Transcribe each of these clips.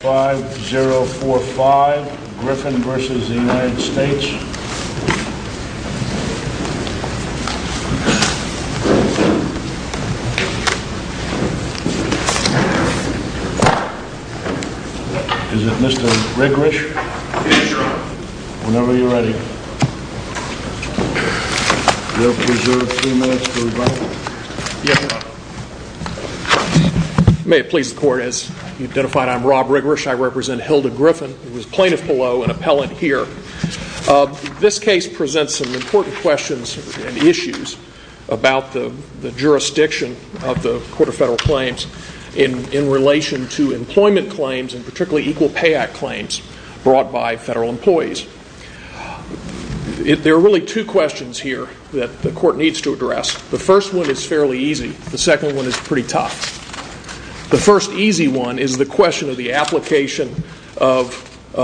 5 0 4 5 Griffin versus the United States Is it Mr. Rigorich? Yes, your honor. Whenever you're ready. May it please the court, as you identified, I'm Rob Rigorich. I represent Hilda Griffin, who is plaintiff below and appellant here. This case presents some important questions and issues about the jurisdiction of the Court of Federal Claims in relation to employment There are really two questions here that the court needs to address. The first one is fairly easy. The second one is pretty tough. The first easy one is the question of the application of the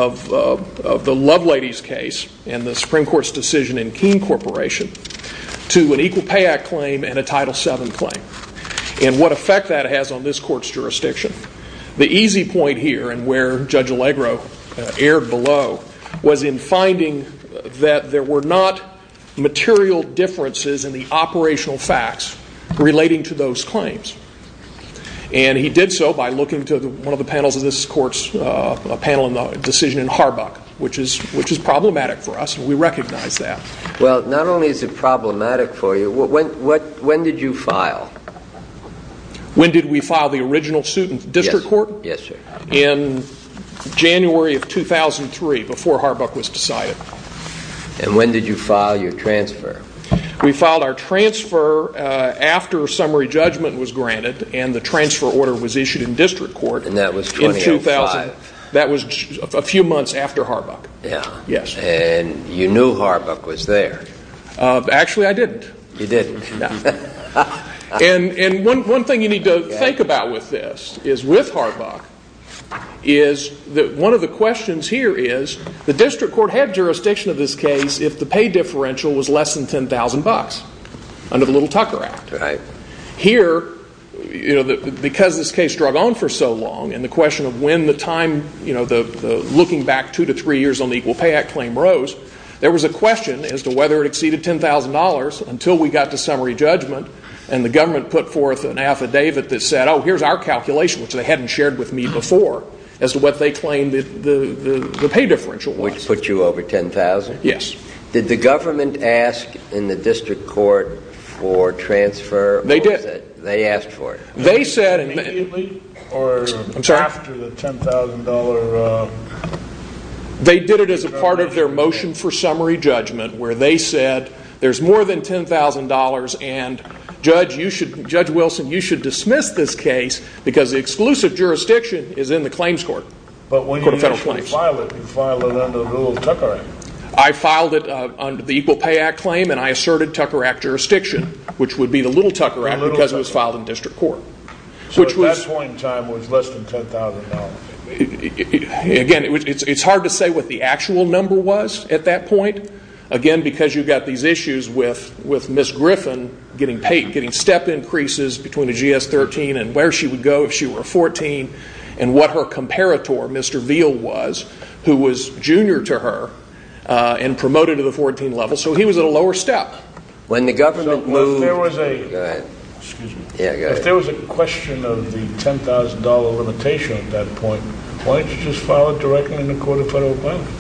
Lovelady's case and the Supreme Court's decision in Keene Corporation to an Equal Pay Act claim and a Title VII claim and what effect that has on this court's jurisdiction. The easy point here, and where Judge Allegro erred below, was in finding that there were not material differences in the operational facts relating to those claims. And he did so by looking to one of the panels of this court's panel on the decision in Harbuck, which is problematic for us, and we recognize that. Well, not only is it problematic for you, when did you file? When did we file the original suit in district court? Yes, sir. In January of 2003, before Harbuck was decided. And when did you file your transfer? We filed our transfer after summary judgment was granted and the transfer order was issued in district court in 2005. And that was a few months after Harbuck? Yes. And you knew Harbuck was there? Actually I didn't. You didn't? No. And one thing you need to think about with this is with Harbuck is that one of the questions here is the district court had jurisdiction of this case if the pay differential was less than $10,000 under the Little Tucker Act. Here, because this case drug on for so long and the question of when the time, looking back two to three years on the Equal Pay Act claim rose, there was a question as to whether it exceeded $10,000 until we got to summary judgment and the government put forth an affidavit that said, oh, here's our calculation, which they hadn't shared with me before, as to what they claimed the pay differential was. Which put you over $10,000? Yes. Did the government ask in the district court for transfer? They did. They asked for it? They said immediately or after the $10,000? They did it as a part of their motion for summary judgment where they said there's more than $10,000 and Judge Wilson, you should dismiss this case because the exclusive jurisdiction is in the claims court. But when you file it, you file it under the Little Tucker Act? I filed it under the Equal Pay Act claim and I asserted Tucker Act jurisdiction, which would be the Little Tucker Act because it was filed in district court. So at that point in time, it was less than $10,000? Again, it's hard to say what the actual number was at that point. Again, because you've got these issues with Miss Griffin getting paid, getting step increases between the GS-13 and where she would go if she were 14 and what her comparator, Mr. Veal, was, who was junior to her and promoted to the 14 level. So he was at a lower step. When the government moved... If there was a question of the $10,000 limitation at that point, why didn't you just file it directly in the Court of Federal Appointment?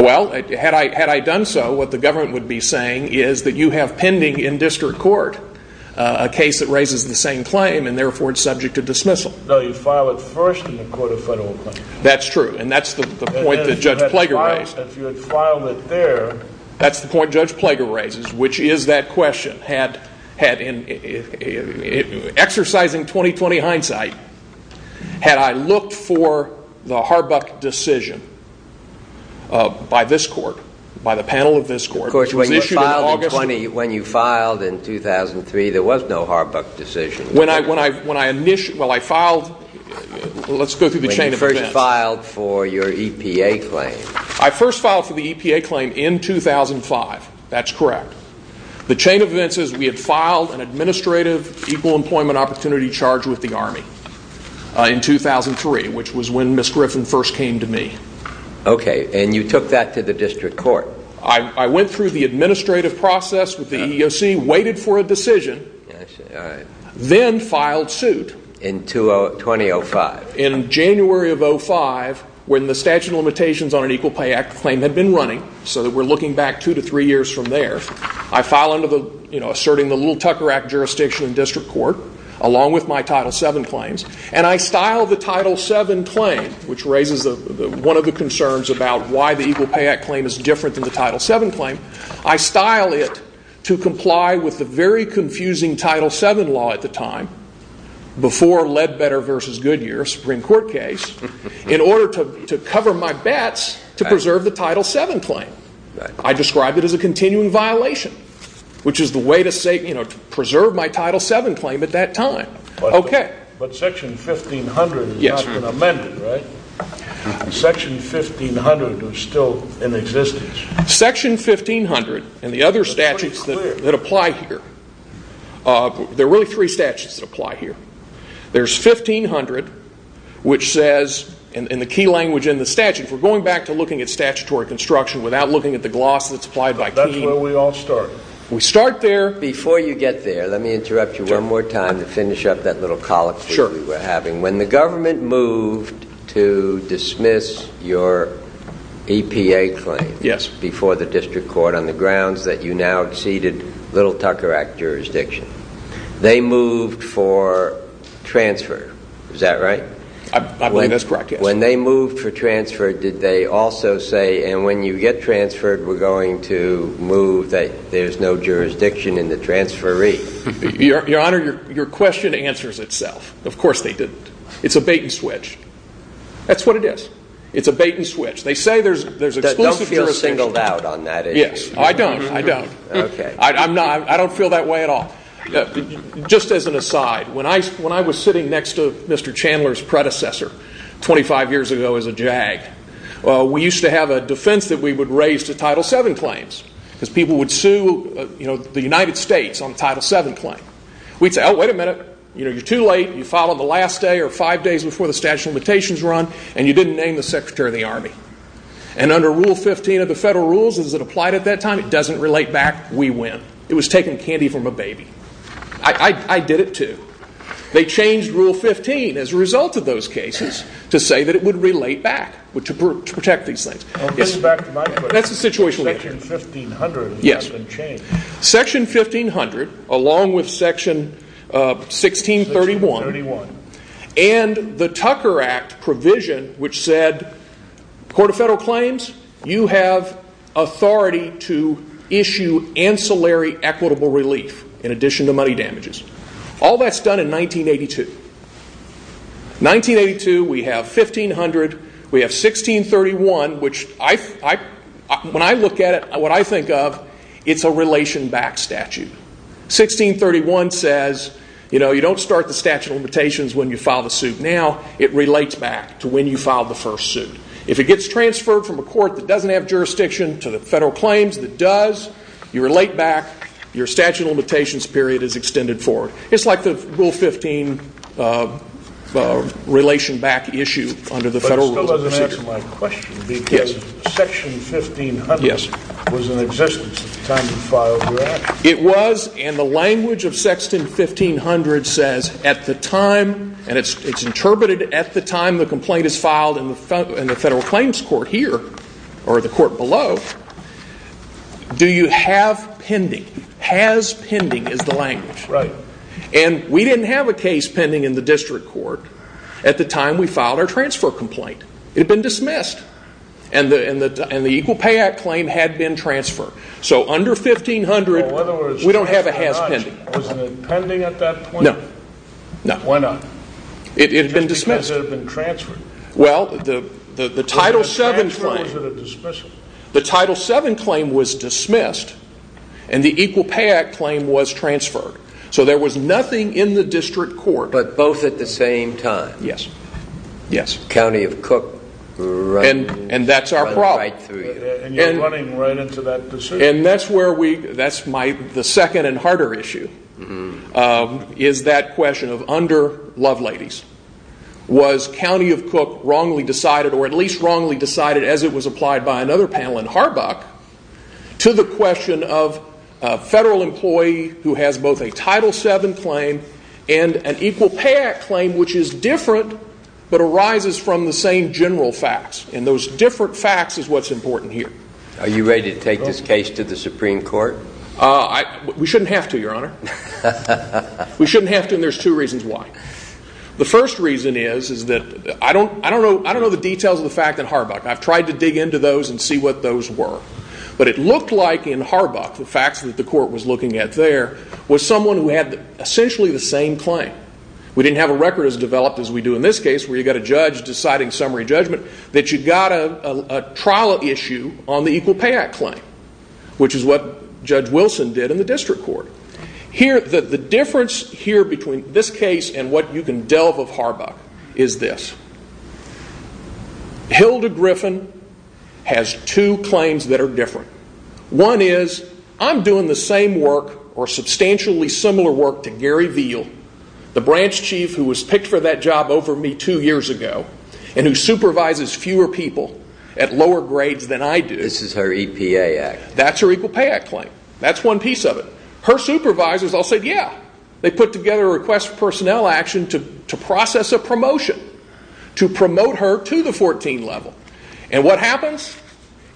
Well, had I done so, what the government would be saying is that you have pending in district court a case that raises the same claim and therefore it's subject to dismissal. No, you file it first in the Court of Federal Appointment. That's true and that's the point that Judge Plager raised. If you had filed it there... That's the point Judge Plager raises, which is that question. Exercising 20-20 hindsight, had I looked for the Harbuck decision by this court, by the panel of this court... Of course, when you filed in 2003, there was no Harbuck decision. Well, I filed... Let's go through the chain of events. When you first filed for your EPA claim. I first filed for the EPA claim in 2005. That's correct. The chain of events is we had filed an administrative equal employment opportunity charge with the Army in 2003, which was when Ms. Griffin first came to me. Okay, and you took that to the district court. I went through the administrative process with the EEOC, waited for a decision, then filed suit. In 2005. In January of 2005, when the statute of limitations on an equal pay act claim had been running, so that we're looking back two to three years from there, I filed under the, you know, asserting the Little Tucker Act jurisdiction in district court, along with my Title VII claims, and I styled the Title VII claim, which raises one of the concerns about why the equal pay act claim is different than the Title VII claim. I styled it to comply with the very confusing Title VII law at the time, before Ledbetter v. Goodyear Supreme Court case, in order to continue in violation, which is the way to say, you know, to preserve my Title VII claim at that time. Okay. But section 1500 has not been amended, right? Section 1500 is still in existence. Section 1500 and the other statutes that apply here, there are really three statutes that apply here. There's 1500, which says, in the key language in the statute, if we're going back to looking at statutory construction without looking at the gloss that's applied by King. That's where we all start. We start there. Before you get there, let me interrupt you one more time to finish up that little colloquy we were having. When the government moved to dismiss your EPA claim before the district court on the grounds that you now exceeded Little Tucker Act jurisdiction, they moved for transfer, is that right? I believe that's correct, yes. When they moved for transfer, did they also say, and when you get transferred, we're going to move that there's no jurisdiction in the transferee? Your Honor, your question answers itself. Of course they didn't. It's a bait and switch. That's what it is. It's a bait and switch. They say there's exclusive jurisdiction. Don't feel singled out on that issue. Yes, I don't. I don't. I don't feel that way at all. Just as an aside, when I was sitting next to Mr. Chandler's predecessor 25 years ago as a JAG, we used to have a defense that we would raise to Title VII claims because people would sue the United States on a Title VII claim. We'd say, oh, wait a minute. You're too late. You filed on the last day or five days before the statute of limitations run, and you didn't name the Secretary of the Army. Under Rule 15 of the federal rules, as it applied at that time, it doesn't relate back. We win. It was taking candy from a baby. I did it too. They changed Rule 15 as a result of those cases to say that it would relate back to protect these things. I'll get back to my question. That's the situation we're in. Section 1500 has not been changed. Section 1500, along with Section 1631 and the Tucker Act provision, which said, Court of Federal Claims, you have authority to issue ancillary equitable relief in addition to When I look at it, what I think of, it's a relation back statute. 1631 says you don't start the statute of limitations when you file the suit now. It relates back to when you filed the first suit. If it gets transferred from a court that doesn't have jurisdiction to the federal claims that does, you relate back. Your statute of limitations period is extended forward. It's like the Rule 15 relation back issue under the federal rules. That doesn't answer my question because Section 1500 was in existence at the time you filed your action. It was, and the language of Section 1500 says, at the time, and it's interpreted at the time the complaint is filed in the federal claims court here, or the court below, do you have pending. Has pending is the language. We didn't have a case pending in the district court at the time we filed our transfer complaint. It had been dismissed, and the Equal Pay Act claim had been transferred. So under 1500, we don't have a has pending. Was it pending at that point? No. Why not? It had been dismissed. Just because it had been transferred. Well, the Title VII claim was dismissed, and the Equal Pay Act claim was transferred. So there was nothing in the district court. But both at the same time? Yes. Yes. County of Cook running right through you. And that's our problem. And you're running right into that pursuit. And that's where we, that's my, the second and harder issue, is that question of under Loveladies. Was County of Cook wrongly decided, or at least wrongly decided as it was applied by another panel in Harbach, to the question of a federal employee who has both a Title VII claim and an Equal Pay Act claim, which is different, but arises from the same general facts. And those different facts is what's important here. Are you ready to take this case to the Supreme Court? We shouldn't have to, Your Honor. We shouldn't have to, and there's two reasons why. The first reason is that, I don't know the details of the fact in Harbach. I've tried to dig into those and see what those were. But it looked like in Harbach, the facts that the essentially the same claim. We didn't have a record as developed as we do in this case, where you've got a judge deciding summary judgment, that you've got a trial issue on the Equal Pay Act claim, which is what Judge Wilson did in the District Court. Here, the difference here between this case and what you can delve of Harbach is this. Hilda Griffin has two claims that are different. One is, I'm doing the same work, or substantially similar work to Gary Veal, the branch chief who was picked for that job over me two years ago, and who supervises fewer people at lower grades than I do. This is her EPA act. That's her Equal Pay Act claim. That's one piece of it. Her supervisors all said, yeah. They put together a request for personnel action to process a promotion, to promote her to the 14 level. And what happens?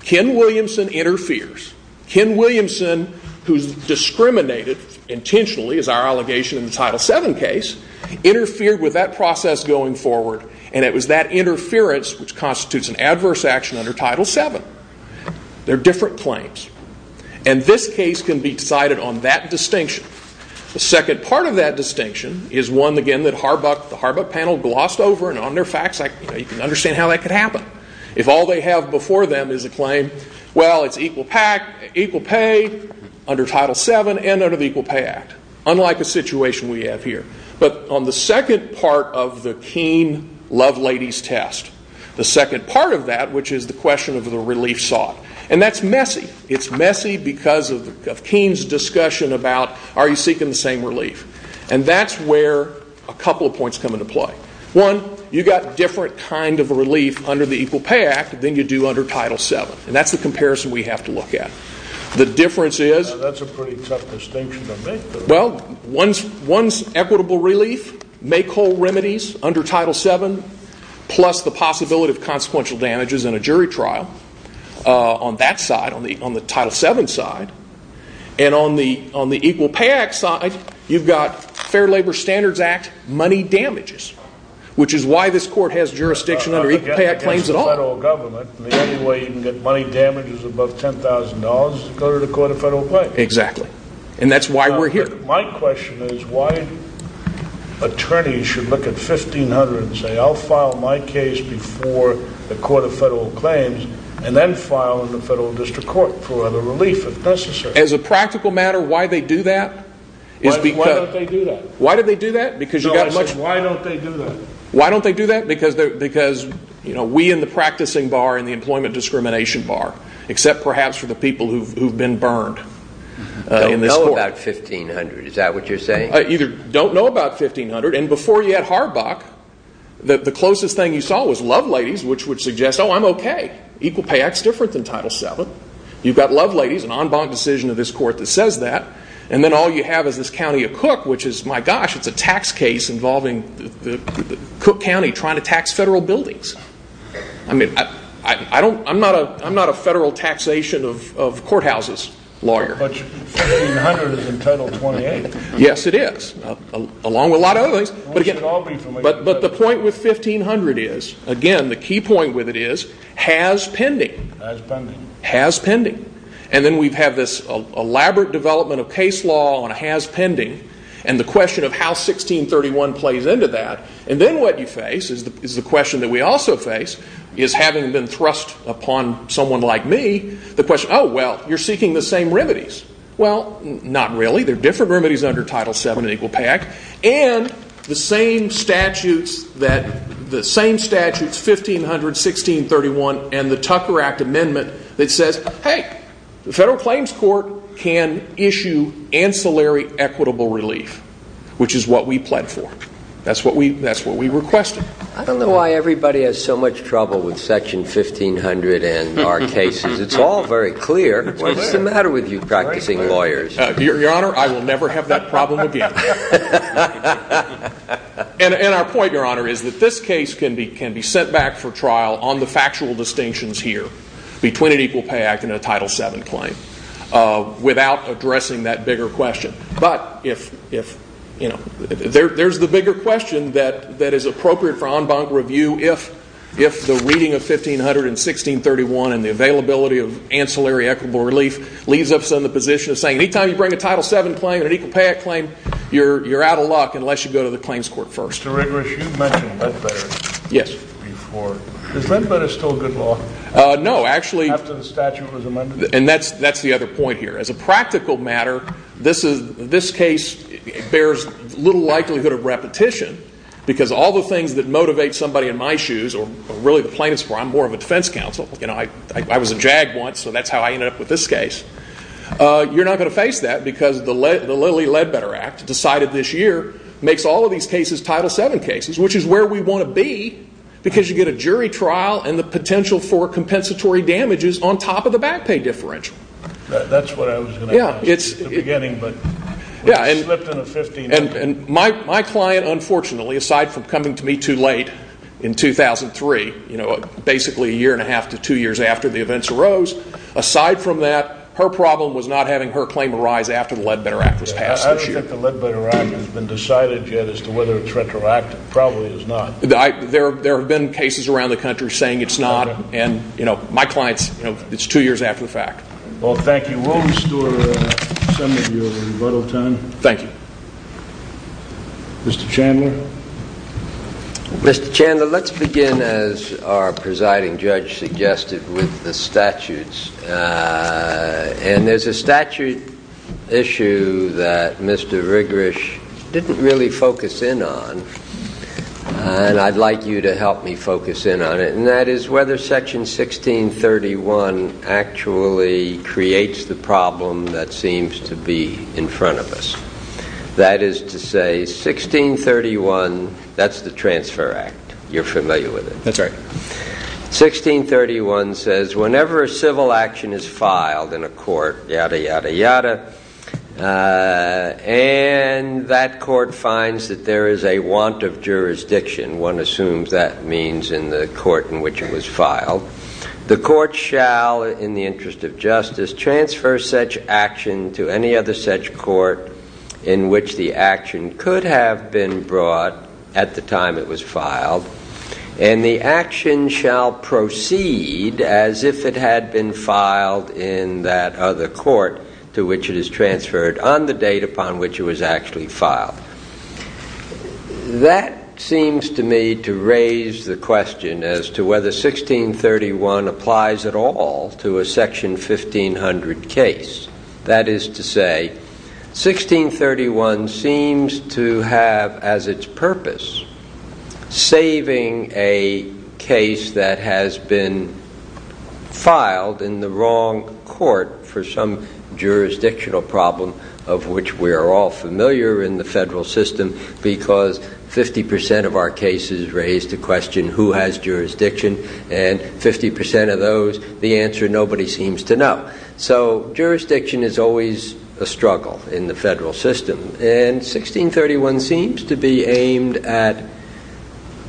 Ken Williamson interferes. Ken Williamson, who's discriminated intentionally, as our allegation in the Title VII case, interfered with that process going forward. And it was that interference which constitutes an adverse action under Title VII. They're different claims. And this case can be decided on that distinction. The second part of that distinction is one, again, that Harbach, the Harbach panel glossed over and on their facts. You can understand how that could happen. If all they have before them is a claim, well, it's equal pay under Title VII and under the Equal Pay Act, unlike a situation we have here. But on the second part of the Keene love ladies test, the second part of that, which is the question of the relief sought, and that's messy. It's messy because of Keene's discussion about are you seeking the same relief. And that's where a couple of points come into play. One, you've got different kind of relief under the Equal Pay Act than you do under Title VII. And that's the comparison we have to look at. The difference is, well, one's equitable relief, make whole remedies under Title VII, plus the possibility of consequential damages in a jury trial on that side, on the Title VII side. And on the Equal Pay Act side, you've got Fair Labor Standards Act money damages, which is why this court has jurisdiction under Equal Pay Act claims at all. I mean, the only way you can get money damages above $10,000 is to go to the Court of Federal Claims. Exactly. And that's why we're here. My question is why attorneys should look at 1500 and say, I'll file my case before the Court of Federal Claims and then file in the Federal District Court for the relief if necessary. As a practical matter, why they do that is because we in the practicing bar, in the employment discrimination bar, except perhaps for the people who've been burned in this court, don't know about 1500. And before you had Harbach, the closest thing you saw was Love Ladies, which would suggest, oh, I'm okay. Equal Pay Act's different than Title VII. You've got Love Ladies, an en banc decision of this court that says that. And then all you have is this county of Cook, which is, my gosh, it's a tax case involving Cook County trying to tax federal buildings. I mean, I'm not a federal taxation of courthouses lawyer. But 1500 is in Title 28. Yes, it is, along with a lot of other things. We should all be familiar with that. But the point with 1500 is, again, the key point with it is, has pending. Has pending. Has pending. And then we have this elaborate development of case law on has pending, and the question of how 1631 plays into that. And then what you face is the question that we also face, is having been thrust upon someone like me, the question, oh, well, you're seeking the same remedies. Well, not really. There are different remedies under Title VII in that says, hey, the Federal Claims Court can issue ancillary equitable relief, which is what we pled for. That's what we requested. I don't know why everybody has so much trouble with Section 1500 in our cases. It's all very clear. What's the matter with you practicing lawyers? Your Honor, I will never have that problem again. And our point, Your Honor, is that this case can be sent back for trial on the factual distinctions here, between an Equal Pay Act and a Title VII claim, without addressing that bigger question. But there's the bigger question that is appropriate for en banc review if the reading of 1500 and 1631 and the availability of ancillary equitable relief leaves us in the position of saying, any time you bring a Title VII claim and an Equal Pay Act claim, you're out of luck unless you go to the Claims Court first. Mr. Rigorous, you mentioned Ledbetter before. Is Ledbetter still good law after the statute No, actually, and that's the other point here. As a practical matter, this case bears little likelihood of repetition because all the things that motivate somebody in my shoes, or really the plaintiffs, where I'm more of a defense counsel, you know, I was a JAG once, so that's how I ended up with this case. You're not going to face that because the Lilly Ledbetter Act, decided this year, makes all of these cases Title VII cases, which is where we want to be because you get a jury trial and the potential for compensatory damages on top of the back pay differential. That's what I was going to ask you at the beginning, but we slipped in a 15-minute. My client, unfortunately, aside from coming to me too late in 2003, you know, basically a year and a half to two years after the events arose, aside from that, her problem was not having her claim arise after the Ledbetter Act was passed this year. I don't think the Ledbetter Act has been decided yet as to whether it's retroactive. It probably is not. There have been cases around the country saying it's not, and, you know, my client's, you know, it's two years after the fact. Well, thank you. Will we restore some of your rebuttal time? Thank you. Mr. Chandler? Mr. Chandler, let's begin, as our presiding judge suggested, with the statutes. And there's a statute issue that Mr. Rigorish didn't really focus in on, and I'd like you to help me focus in on it, and that is whether Section 1631 actually creates the problem that seems to be in front of us. That is to say, 1631, that's the Transfer Act. You're familiar with it. That's right. 1631 says, whenever a civil action is filed in a court, yada, yada, yada, and that court finds that there is a want of jurisdiction, one assumes that means in the court in which it was filed, the court shall, in the interest of justice, transfer such action to any other such court in which the action could have been brought at the time it was filed, and the action shall proceed as if it had been filed in that other court to which it is transferred on the date upon which it was actually filed. That seems to me to raise the question as to whether 1631 applies at all to a Section 1500 case. That is to say, 1631 seems to have, as its purpose, saving a case that has been filed in the wrong court for some jurisdictional problem of which we are all familiar in the federal system, because 50% of our cases raise the question, who has jurisdiction? And 50% of those, the answer, nobody seems to know. So jurisdiction is always a struggle in the federal system, and 1631 seems to be aimed at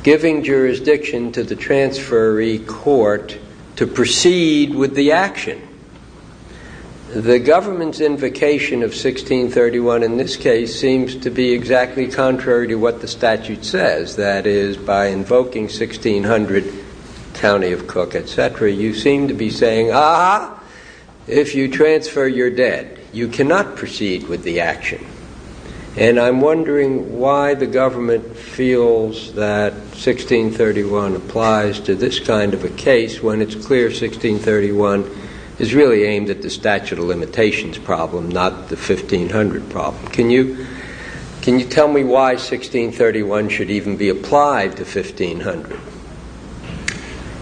giving jurisdiction to the transferee court to proceed with the action. The government's invocation of 1631 in this case seems to be exactly contrary to what the statute says, that is, by invoking 1600, County of Cook, et cetera, you seem to be saying, ah, if you transfer, you're dead. You cannot proceed with the action. And I'm wondering why the government feels that 1631 applies to this kind of a case when it's clear 1631 is really aimed at the statute of limitations problem, not the 1500 problem. Can you tell me why 1631 should even be applied to 1500?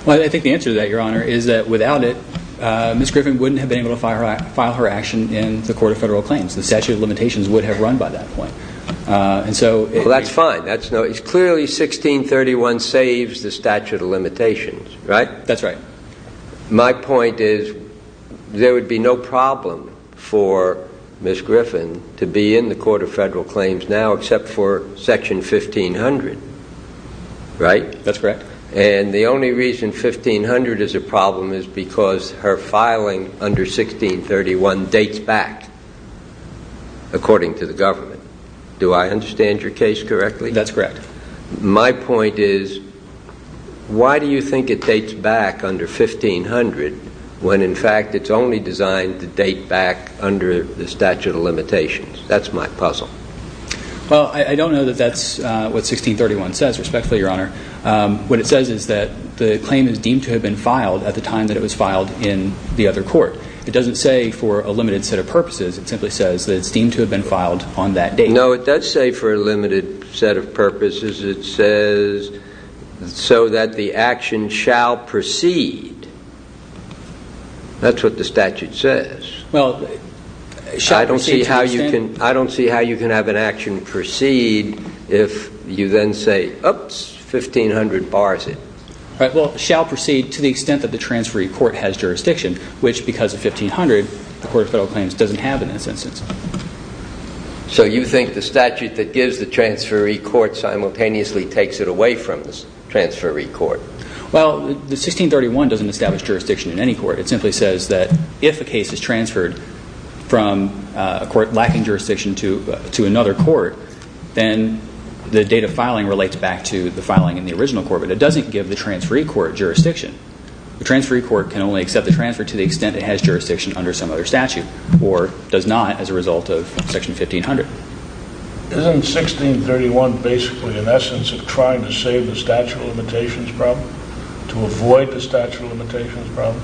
Well, I think the answer to that, Your Honor, is that without it, Ms. Griffin wouldn't have been able to file her action in the Court of Federal Claims. The statute of limitations would have run by that point. Well, that's fine. Clearly, 1631 saves the statute of limitations, right? That's right. My point is there would be no problem for Ms. Griffin to be in the Court of Federal Claims now, except for section 1500, right? That's correct. And the only reason 1500 is a problem is because her filing under 1631 dates back, according to the government. Do I understand your case correctly? That's correct. My point is, why do you think it dates back under 1500 when, in fact, it's only designed to date back under the statute of limitations? That's my puzzle. Well, I don't know that that's what 1631 says, respectfully, Your Honor. What it says is that the claim is deemed to have been filed at the time that it was filed in the other court. It doesn't say for a limited set of purposes. It simply says that it's deemed to have been filed on that date. No, it does say for a limited set of purposes. It says, so that the action shall proceed. That's what the statute says. I don't see how you can have an action proceed if you then say, oops, 1500 bars it. Right, well, shall proceed to the extent that the transferee court has jurisdiction, which, because of 1500, the Court of Federal Claims doesn't have in this instance. So you think the statute that gives the transferee court simultaneously takes it away from the transferee court? Well, the 1631 doesn't establish jurisdiction in any court. It simply says that if a case is transferred from a court lacking jurisdiction to another court, then the date of filing relates back to the filing in the original court. But it doesn't give the transferee court jurisdiction. The transferee court can only accept the transfer to the extent it has jurisdiction under some other statute, or does not as a result of section 1500. Isn't 1631 basically an essence of trying to save the statute of limitations problem, to avoid the statute of limitations problem?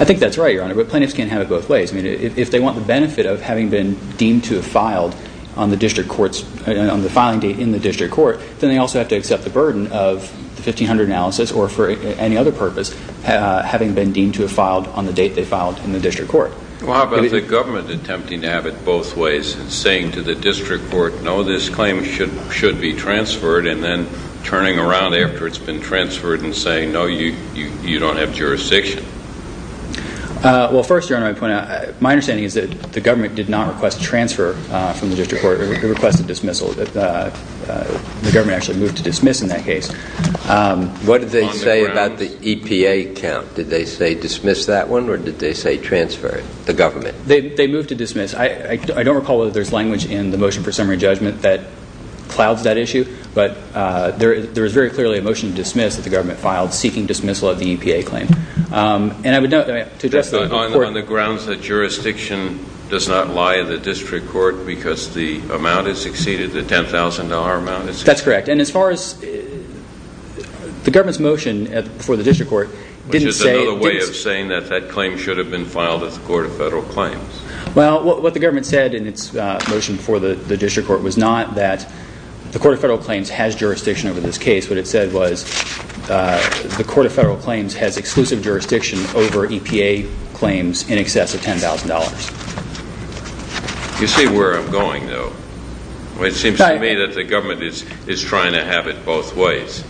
I think that's right, Your Honor, but plaintiffs can't have it both ways. I mean, if they want the benefit of having been deemed to have filed on the filing date in the district court, then they also have to accept the burden of the 1500 analysis, or for any other purpose, having been deemed to have filed on the date they filed in the district court. Well, how about the government attempting to have it both ways, saying to the district court, no, this claim should be transferred, and then turning around after it's been transferred and saying, no, you don't have jurisdiction? Well, first, Your Honor, my understanding is that the government did not request transfer from the district court. It requested dismissal. The government actually moved to dismiss in that case. What did they say about the EPA count? Did they say dismiss that one, or did they say transfer it, the government? They moved to dismiss. I don't recall whether there's language in the motion for summary judgment that clouds that issue, but there was very clearly a motion to dismiss that the government filed seeking dismissal of the EPA claim. And I would note, to address the court... On the grounds that jurisdiction does not lie in the district court because the amount has exceeded the $10,000 amount. That's correct. And as far as the government's motion for the district court didn't say... Which is another way of saying that that claim should have been filed at the Court of Federal Claims. Well, what the government said in its motion for the district court was not that the Court of Federal Claims has jurisdiction over this case. What it said was the Court of Federal Claims has exclusive jurisdiction over EPA claims in excess of $10,000. You see where I'm going, though? It seems to me that the government is trying to have it both ways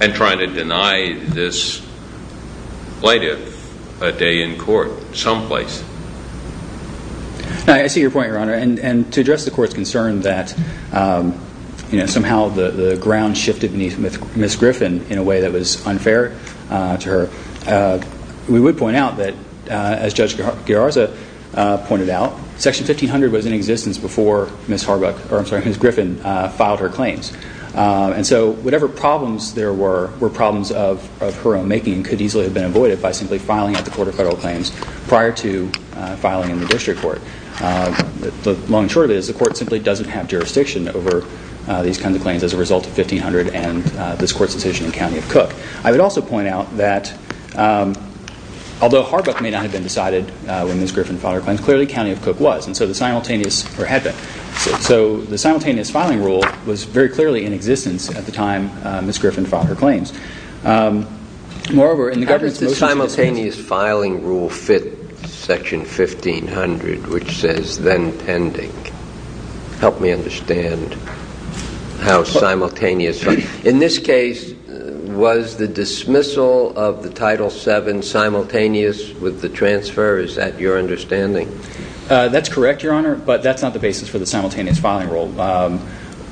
and trying to deny this plaintiff a day in court someplace. I see your point, Your Honor. And to address the court's concern that somehow the ground shifted beneath Ms. Griffin in a way that was unfair to her, I would point out that, as Judge Gararza pointed out, Section 1500 was in existence before Ms. Griffin filed her claims. And so whatever problems there were, were problems of her own making and could easily have been avoided by simply filing at the Court of Federal Claims prior to filing in the district court. The long and short of it is the court simply doesn't have jurisdiction over these kinds of claims as a result of 1500 and this court's decision in County of Cook. I would also point out that, although Harbuck may not have been decided when Ms. Griffin filed her claims, clearly County of Cook was. And so the simultaneous filing rule was very clearly in existence at the time Ms. Griffin filed her claims. Moreover, in the government's motion... How does the simultaneous filing rule fit Section 1500, which says, then pending? Help me understand how simultaneous... In this case, was the dismissal of the Title VII simultaneous with the transfer? Is that your understanding? That's correct, Your Honor, but that's not the basis for the simultaneous filing rule.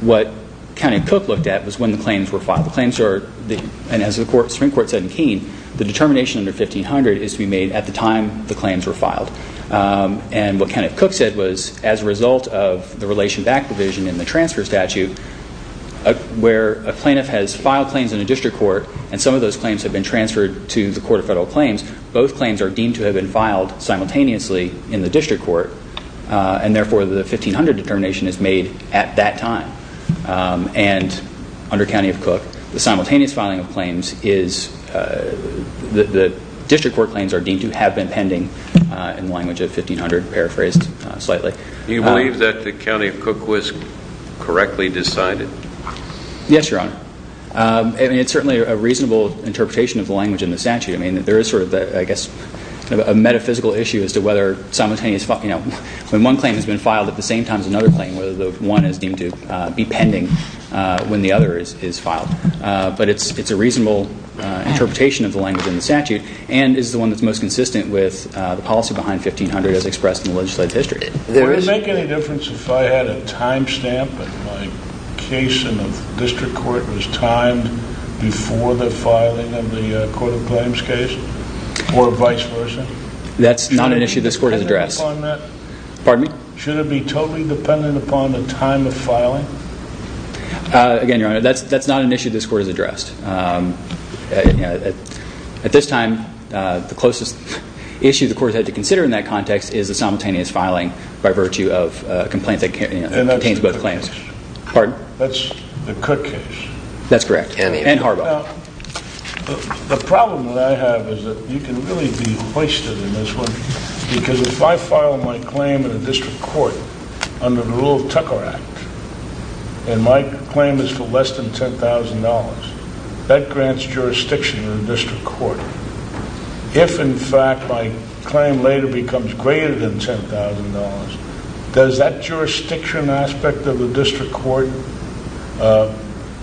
What County of Cook looked at was when the claims were filed. The claims are, and as the Supreme Court said in Keene, the determination under 1500 is to be made at the time the claims were filed. And what County of Cook said was, as a result of the relation back division in the transfer statute, where a plaintiff has filed claims in a district court and some of those claims have been transferred to the Court of Federal Claims, both claims are deemed to have been filed simultaneously in the district court. And therefore, the 1500 determination is made at that time. And under County of Cook, the simultaneous filing of claims is... The district court claims are deemed to have been pending in the language of 1500, paraphrased slightly. Do you believe that the County of Cook was correctly decided? Yes, Your Honor. And it's certainly a reasonable interpretation of the language in the statute. I mean, there is sort of, I guess, a metaphysical issue as to whether simultaneous... You know, when one claim has been filed at the same time as another claim, whether the one is deemed to be pending when the other is filed. But it's a reasonable interpretation of the language in the statute and is the one that's most consistent with the policy behind 1500 as expressed in the legislative history. Would it make any difference if I had a timestamp and my case in the district court was timed before the filing of the Court of Claims case? Or vice versa? That's not an issue this court has addressed. Should it be totally dependent upon the time of filing? Again, Your Honor, that's not an issue this court has addressed. The issue the court has to consider in that context is the simultaneous filing by virtue of a complaint that contains both claims. And that's the Cook case. Pardon? That's the Cook case. That's correct. And Harbaugh. Now, the problem that I have is that you can really be hoisted in this one because if I file my claim in a district court under the rule of Tucker Act, and my claim is for less than $10,000, that grants jurisdiction to the district court. If, in fact, my claim later becomes greater than $10,000, does that jurisdiction aspect of the district court,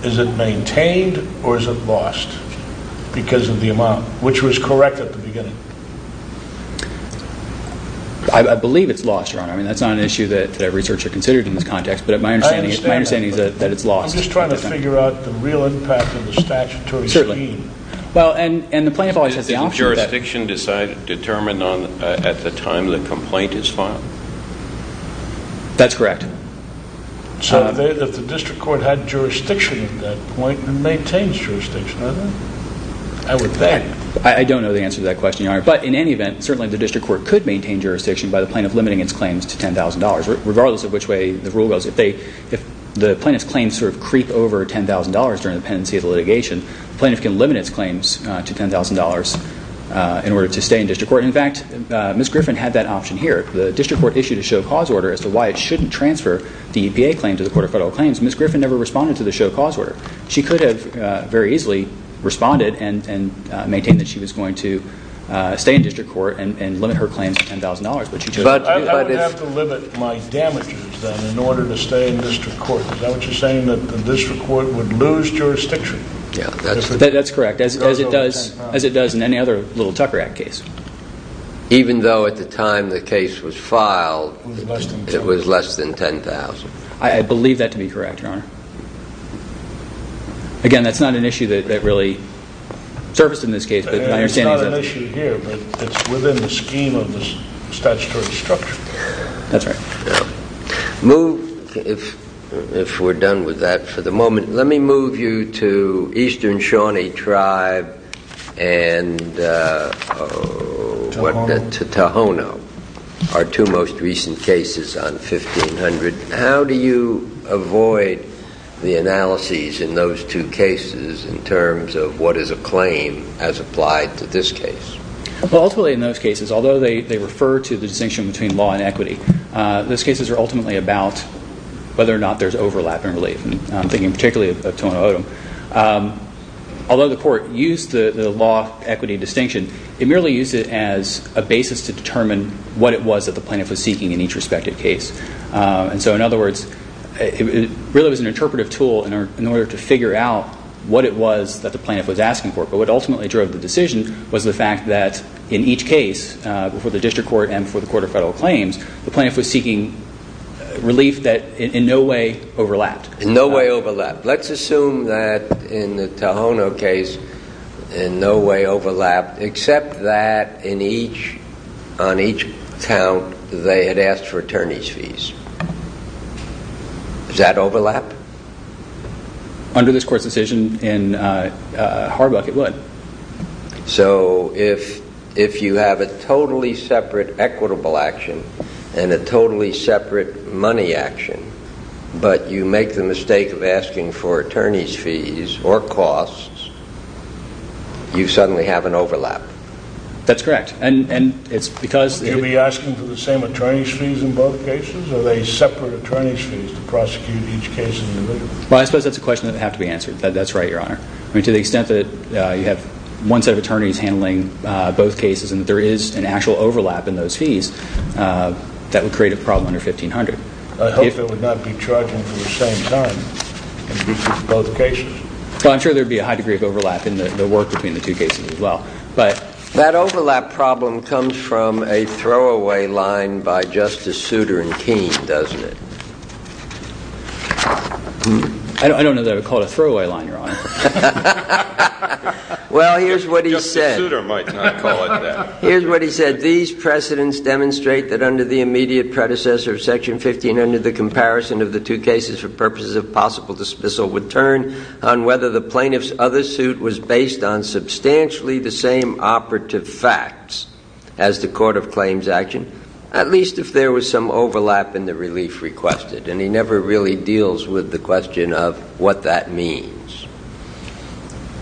is it maintained or is it lost because of the amount, which was correct at the beginning? I believe it's lost, Your Honor. I mean, that's not an issue that every searcher considered in this context, but my understanding is that it's lost. I'm just trying to figure out the real impact of the statutory scheme. Certainly. Well, and the plaintiff always has the option that Isn't jurisdiction determined at the time the complaint is filed? That's correct. So if the district court had jurisdiction at that point, it maintains jurisdiction, doesn't it? I would bet. I don't know the answer to that question, Your Honor, but in any event, certainly the district court could maintain jurisdiction by the plaintiff limiting its claims to $10,000, regardless of which way the rule goes. If the plaintiff's claims sort of creep over $10,000 during the pendency of the litigation, the plaintiff can limit its claims to $10,000 in order to stay in district court. In fact, Ms. Griffin had that option here. The district court issued a show cause order as to why it shouldn't transfer the EPA claim to the Court of Federal Claims. Ms. Griffin never responded to the show cause order. She could have very easily responded and maintained that she was going to stay in district court and limit her claims to $10,000, but she chose not to do it. But I would have to limit my damages, then, in order to stay in district court. Is that what you're saying, that the district court would lose jurisdiction? That's correct, as it does in any other little Tucker Act case. Even though at the time the case was filed, it was less than $10,000. I believe that to be correct, Your Honor. Again, that's not an issue that really surfaced in this case, but my understanding is that... It's not an issue here, but it's within the scheme of the statutory structure. That's right. Now, if we're done with that for the moment, let me move you to Eastern Shawnee Tribe and Tohono, our two most recent cases on 1500. How do you avoid the analyses in those two cases in terms of what is a claim as applied to this case? Well, ultimately in those cases, although they refer to the distinction between law and equity, those cases are ultimately about whether or not there's overlap and relief. I'm thinking particularly of Tohono O'odham. Although the court used the law-equity distinction, it merely used it as a basis to determine what it was that the plaintiff was seeking in each respective case. And so in other words, it really was an interpretive tool in order to figure out what it was that the plaintiff was asking for. But what ultimately drove the decision was the fact that in each case, before the district court and before the Court of Federal Claims, the plaintiff was seeking relief that in no way overlapped. No way overlapped. Let's assume that in the Tohono case, in no way overlapped, except that on each count, they had asked for attorney's fees. Does that overlap? Under this court's decision in Harbuck, it would. So if you have a totally separate equitable action and a totally separate money action, but you make the mistake of asking for attorney's fees or costs, you suddenly have an overlap. That's correct. And it's because... Do you be asking for the same attorney's fees in both cases, or are they separate attorney's fees to prosecute each case individually? Well, I suppose that's a question that would have to be answered. That's right, Your Honor. To the extent that you have one set of attorneys handling both cases and that there is an actual overlap in those fees, that would create a problem under 1500. I hope it would not be charging for the same time in both cases. Well, I'm sure there would be a high degree of overlap in the work between the two cases as well. But that overlap problem comes from a throwaway line by Justice Souter and Keene, doesn't it? I don't know that I would call it a throwaway line, Your Honor. Well, here's what he said. Justice Souter might not call it that. Here's what he said. These precedents demonstrate that under the immediate predecessor of Section 15, under the comparison of the two cases for purposes of possible dismissal, would turn on whether the plaintiff's other suit was based on substantially the same operative facts as the court of claims action, at least if there was some overlap in the relief requested. And he never really deals with the question of what that means,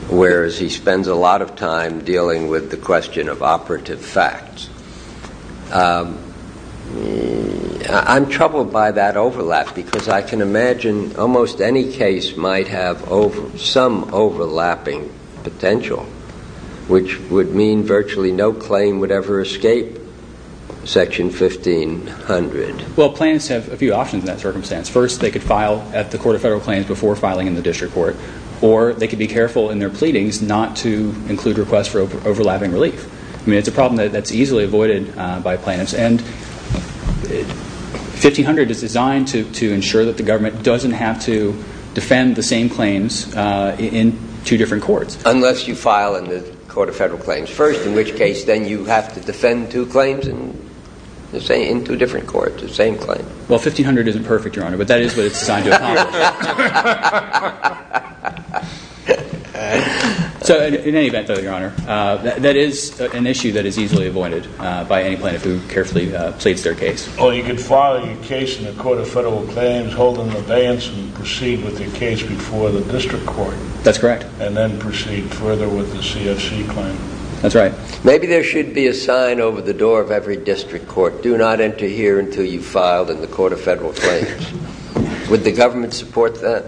whereas he spends a lot of time dealing with the question of operative facts. I'm troubled by that overlap because I can imagine almost any case might have some overlapping potential, which would mean virtually no claim would ever escape Section 1500. Well, plaintiffs have a few options in that circumstance. First, they could file at the Court of Federal Claims before filing in the district court, or they could be careful in their pleadings not to include requests for overlapping relief. I mean, it's a problem that's easily avoided by plaintiffs. And 1500 is designed to ensure that the government doesn't have to defend the same claims in two different courts. Unless you file in the Court of Federal Claims first, in which case then you have to defend two claims in two different courts, the same claim. Well, 1500 isn't perfect, Your Honor, but that is what it's designed to accomplish. So in any event, though, Your Honor, that is an issue that is easily avoided by any plaintiff who carefully pleads their case. Or you could file your case in the Court of Federal Claims, hold an abeyance, and proceed with your case before the district court. That's correct. And then proceed further with the CFC claim. That's right. Maybe there should be a sign over the door of every district court. Do not enter here until you've filed in the Court of Federal Claims. Would the government support that?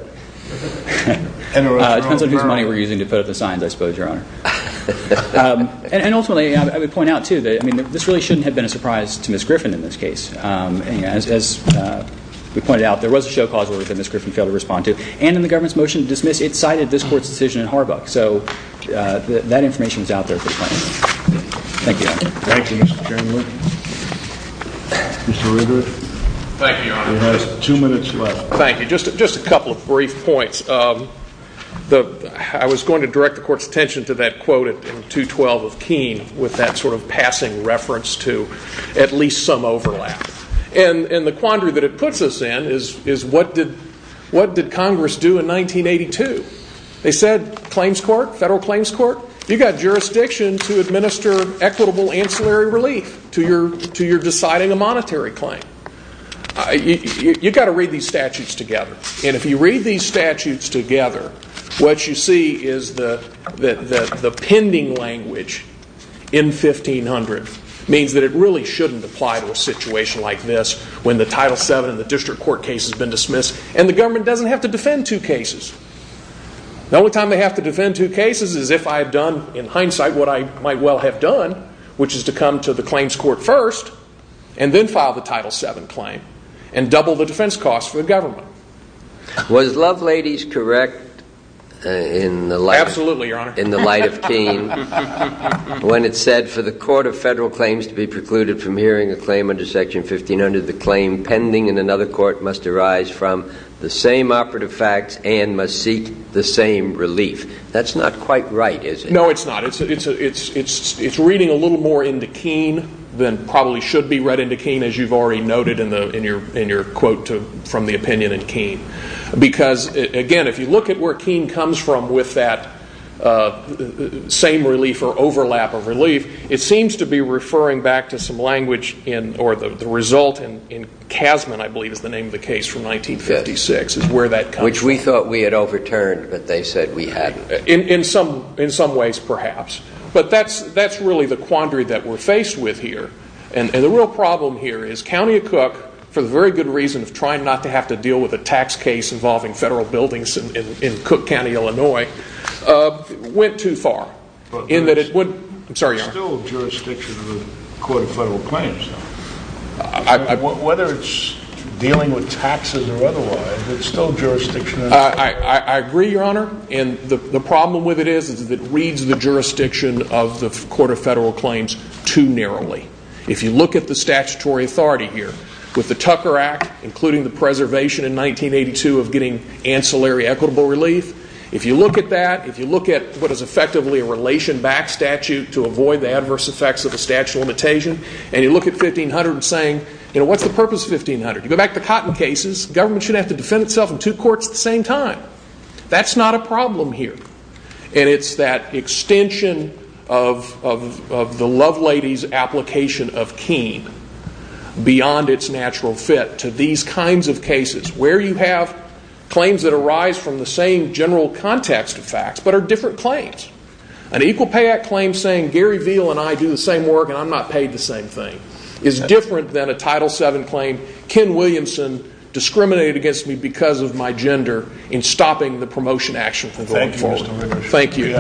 It depends on whose money we're using to put up the signs, I suppose, Your Honor. And ultimately, I would point out, too, that this really shouldn't have been a surprise to Ms. Griffin in this case. As we pointed out, there was a show cause that Ms. Griffin failed to respond to. And in the government's motion to dismiss, it cited this court's decision in Harbuck. So that information is out there at this point. Thank you, Your Honor. Thank you, Mr. Chairman. Mr. Riddick. Thank you, Your Honor. You have two minutes left. Thank you. Just a couple of brief points. I was going to direct the court's attention to that quote in 212 of Keene with that sort of passing reference to at least some overlap. And the quandary that it puts us in is what did Congress do in 1982? They said, claims court, federal claims court, you've got jurisdiction to administer equitable ancillary relief to your deciding a monetary claim. You've got to read these statutes together. And if you read these statutes together, what you see is that the pending language in 1500 means that it really shouldn't apply to a situation like this when the Title VII and the district court case has been dismissed. And the government doesn't have to defend two cases. The only time they have to defend two cases is if I have done, in hindsight, what I might well have done, which is to come to the claims court first and then file the Title VII claim and double the defense costs for the government. Absolutely, Your Honor. But for the court of federal claims to be precluded from hearing a claim under Section 1500, the claim pending in another court must arise from the same operative facts and must seek the same relief. That's not quite right, is it? No, it's not. It's reading a little more into Keene than probably should be read into Keene, as you've already noted in your quote from the opinion in Keene. Because, again, if you look at where Keene comes from with that same relief or overlap of relief, it seems to be referring back to some language or the result in Kasman, I believe, is the name of the case from 1956, is where that comes from. Which we thought we had overturned, but they said we hadn't. In some ways, perhaps. But that's really the quandary that we're faced with here. And the real problem here is County of Cook, for the very good reason of trying not to have to deal with a tax case involving federal buildings in Cook County, Illinois, went too narrow. There's still jurisdiction of the Court of Federal Claims. Whether it's dealing with taxes or otherwise, there's still jurisdiction. I agree, Your Honor. And the problem with it is that it reads the jurisdiction of the Court of Federal Claims too narrowly. If you look at the statutory authority here, with the Tucker Act, including the preservation in 1982 of getting ancillary equitable relief, if you look at that, if you look at what is effectively a relation-backed statute to avoid the adverse effects of a statute of limitation, and you look at 1500 and saying, you know, what's the purpose of 1500? You go back to cotton cases, government should have to defend itself in two courts at the same time. That's not a problem here. And it's that extension of the love lady's application of keen beyond its natural fit to these kinds of cases, where you have claims that arise from the same general context of claims. An Equal Pay Act claim saying, Gary Veal and I do the same work and I'm not paid the same thing, is different than a Title VII claim, Ken Williamson discriminated against me because of my gender, in stopping the promotion action from going forward. Thank you.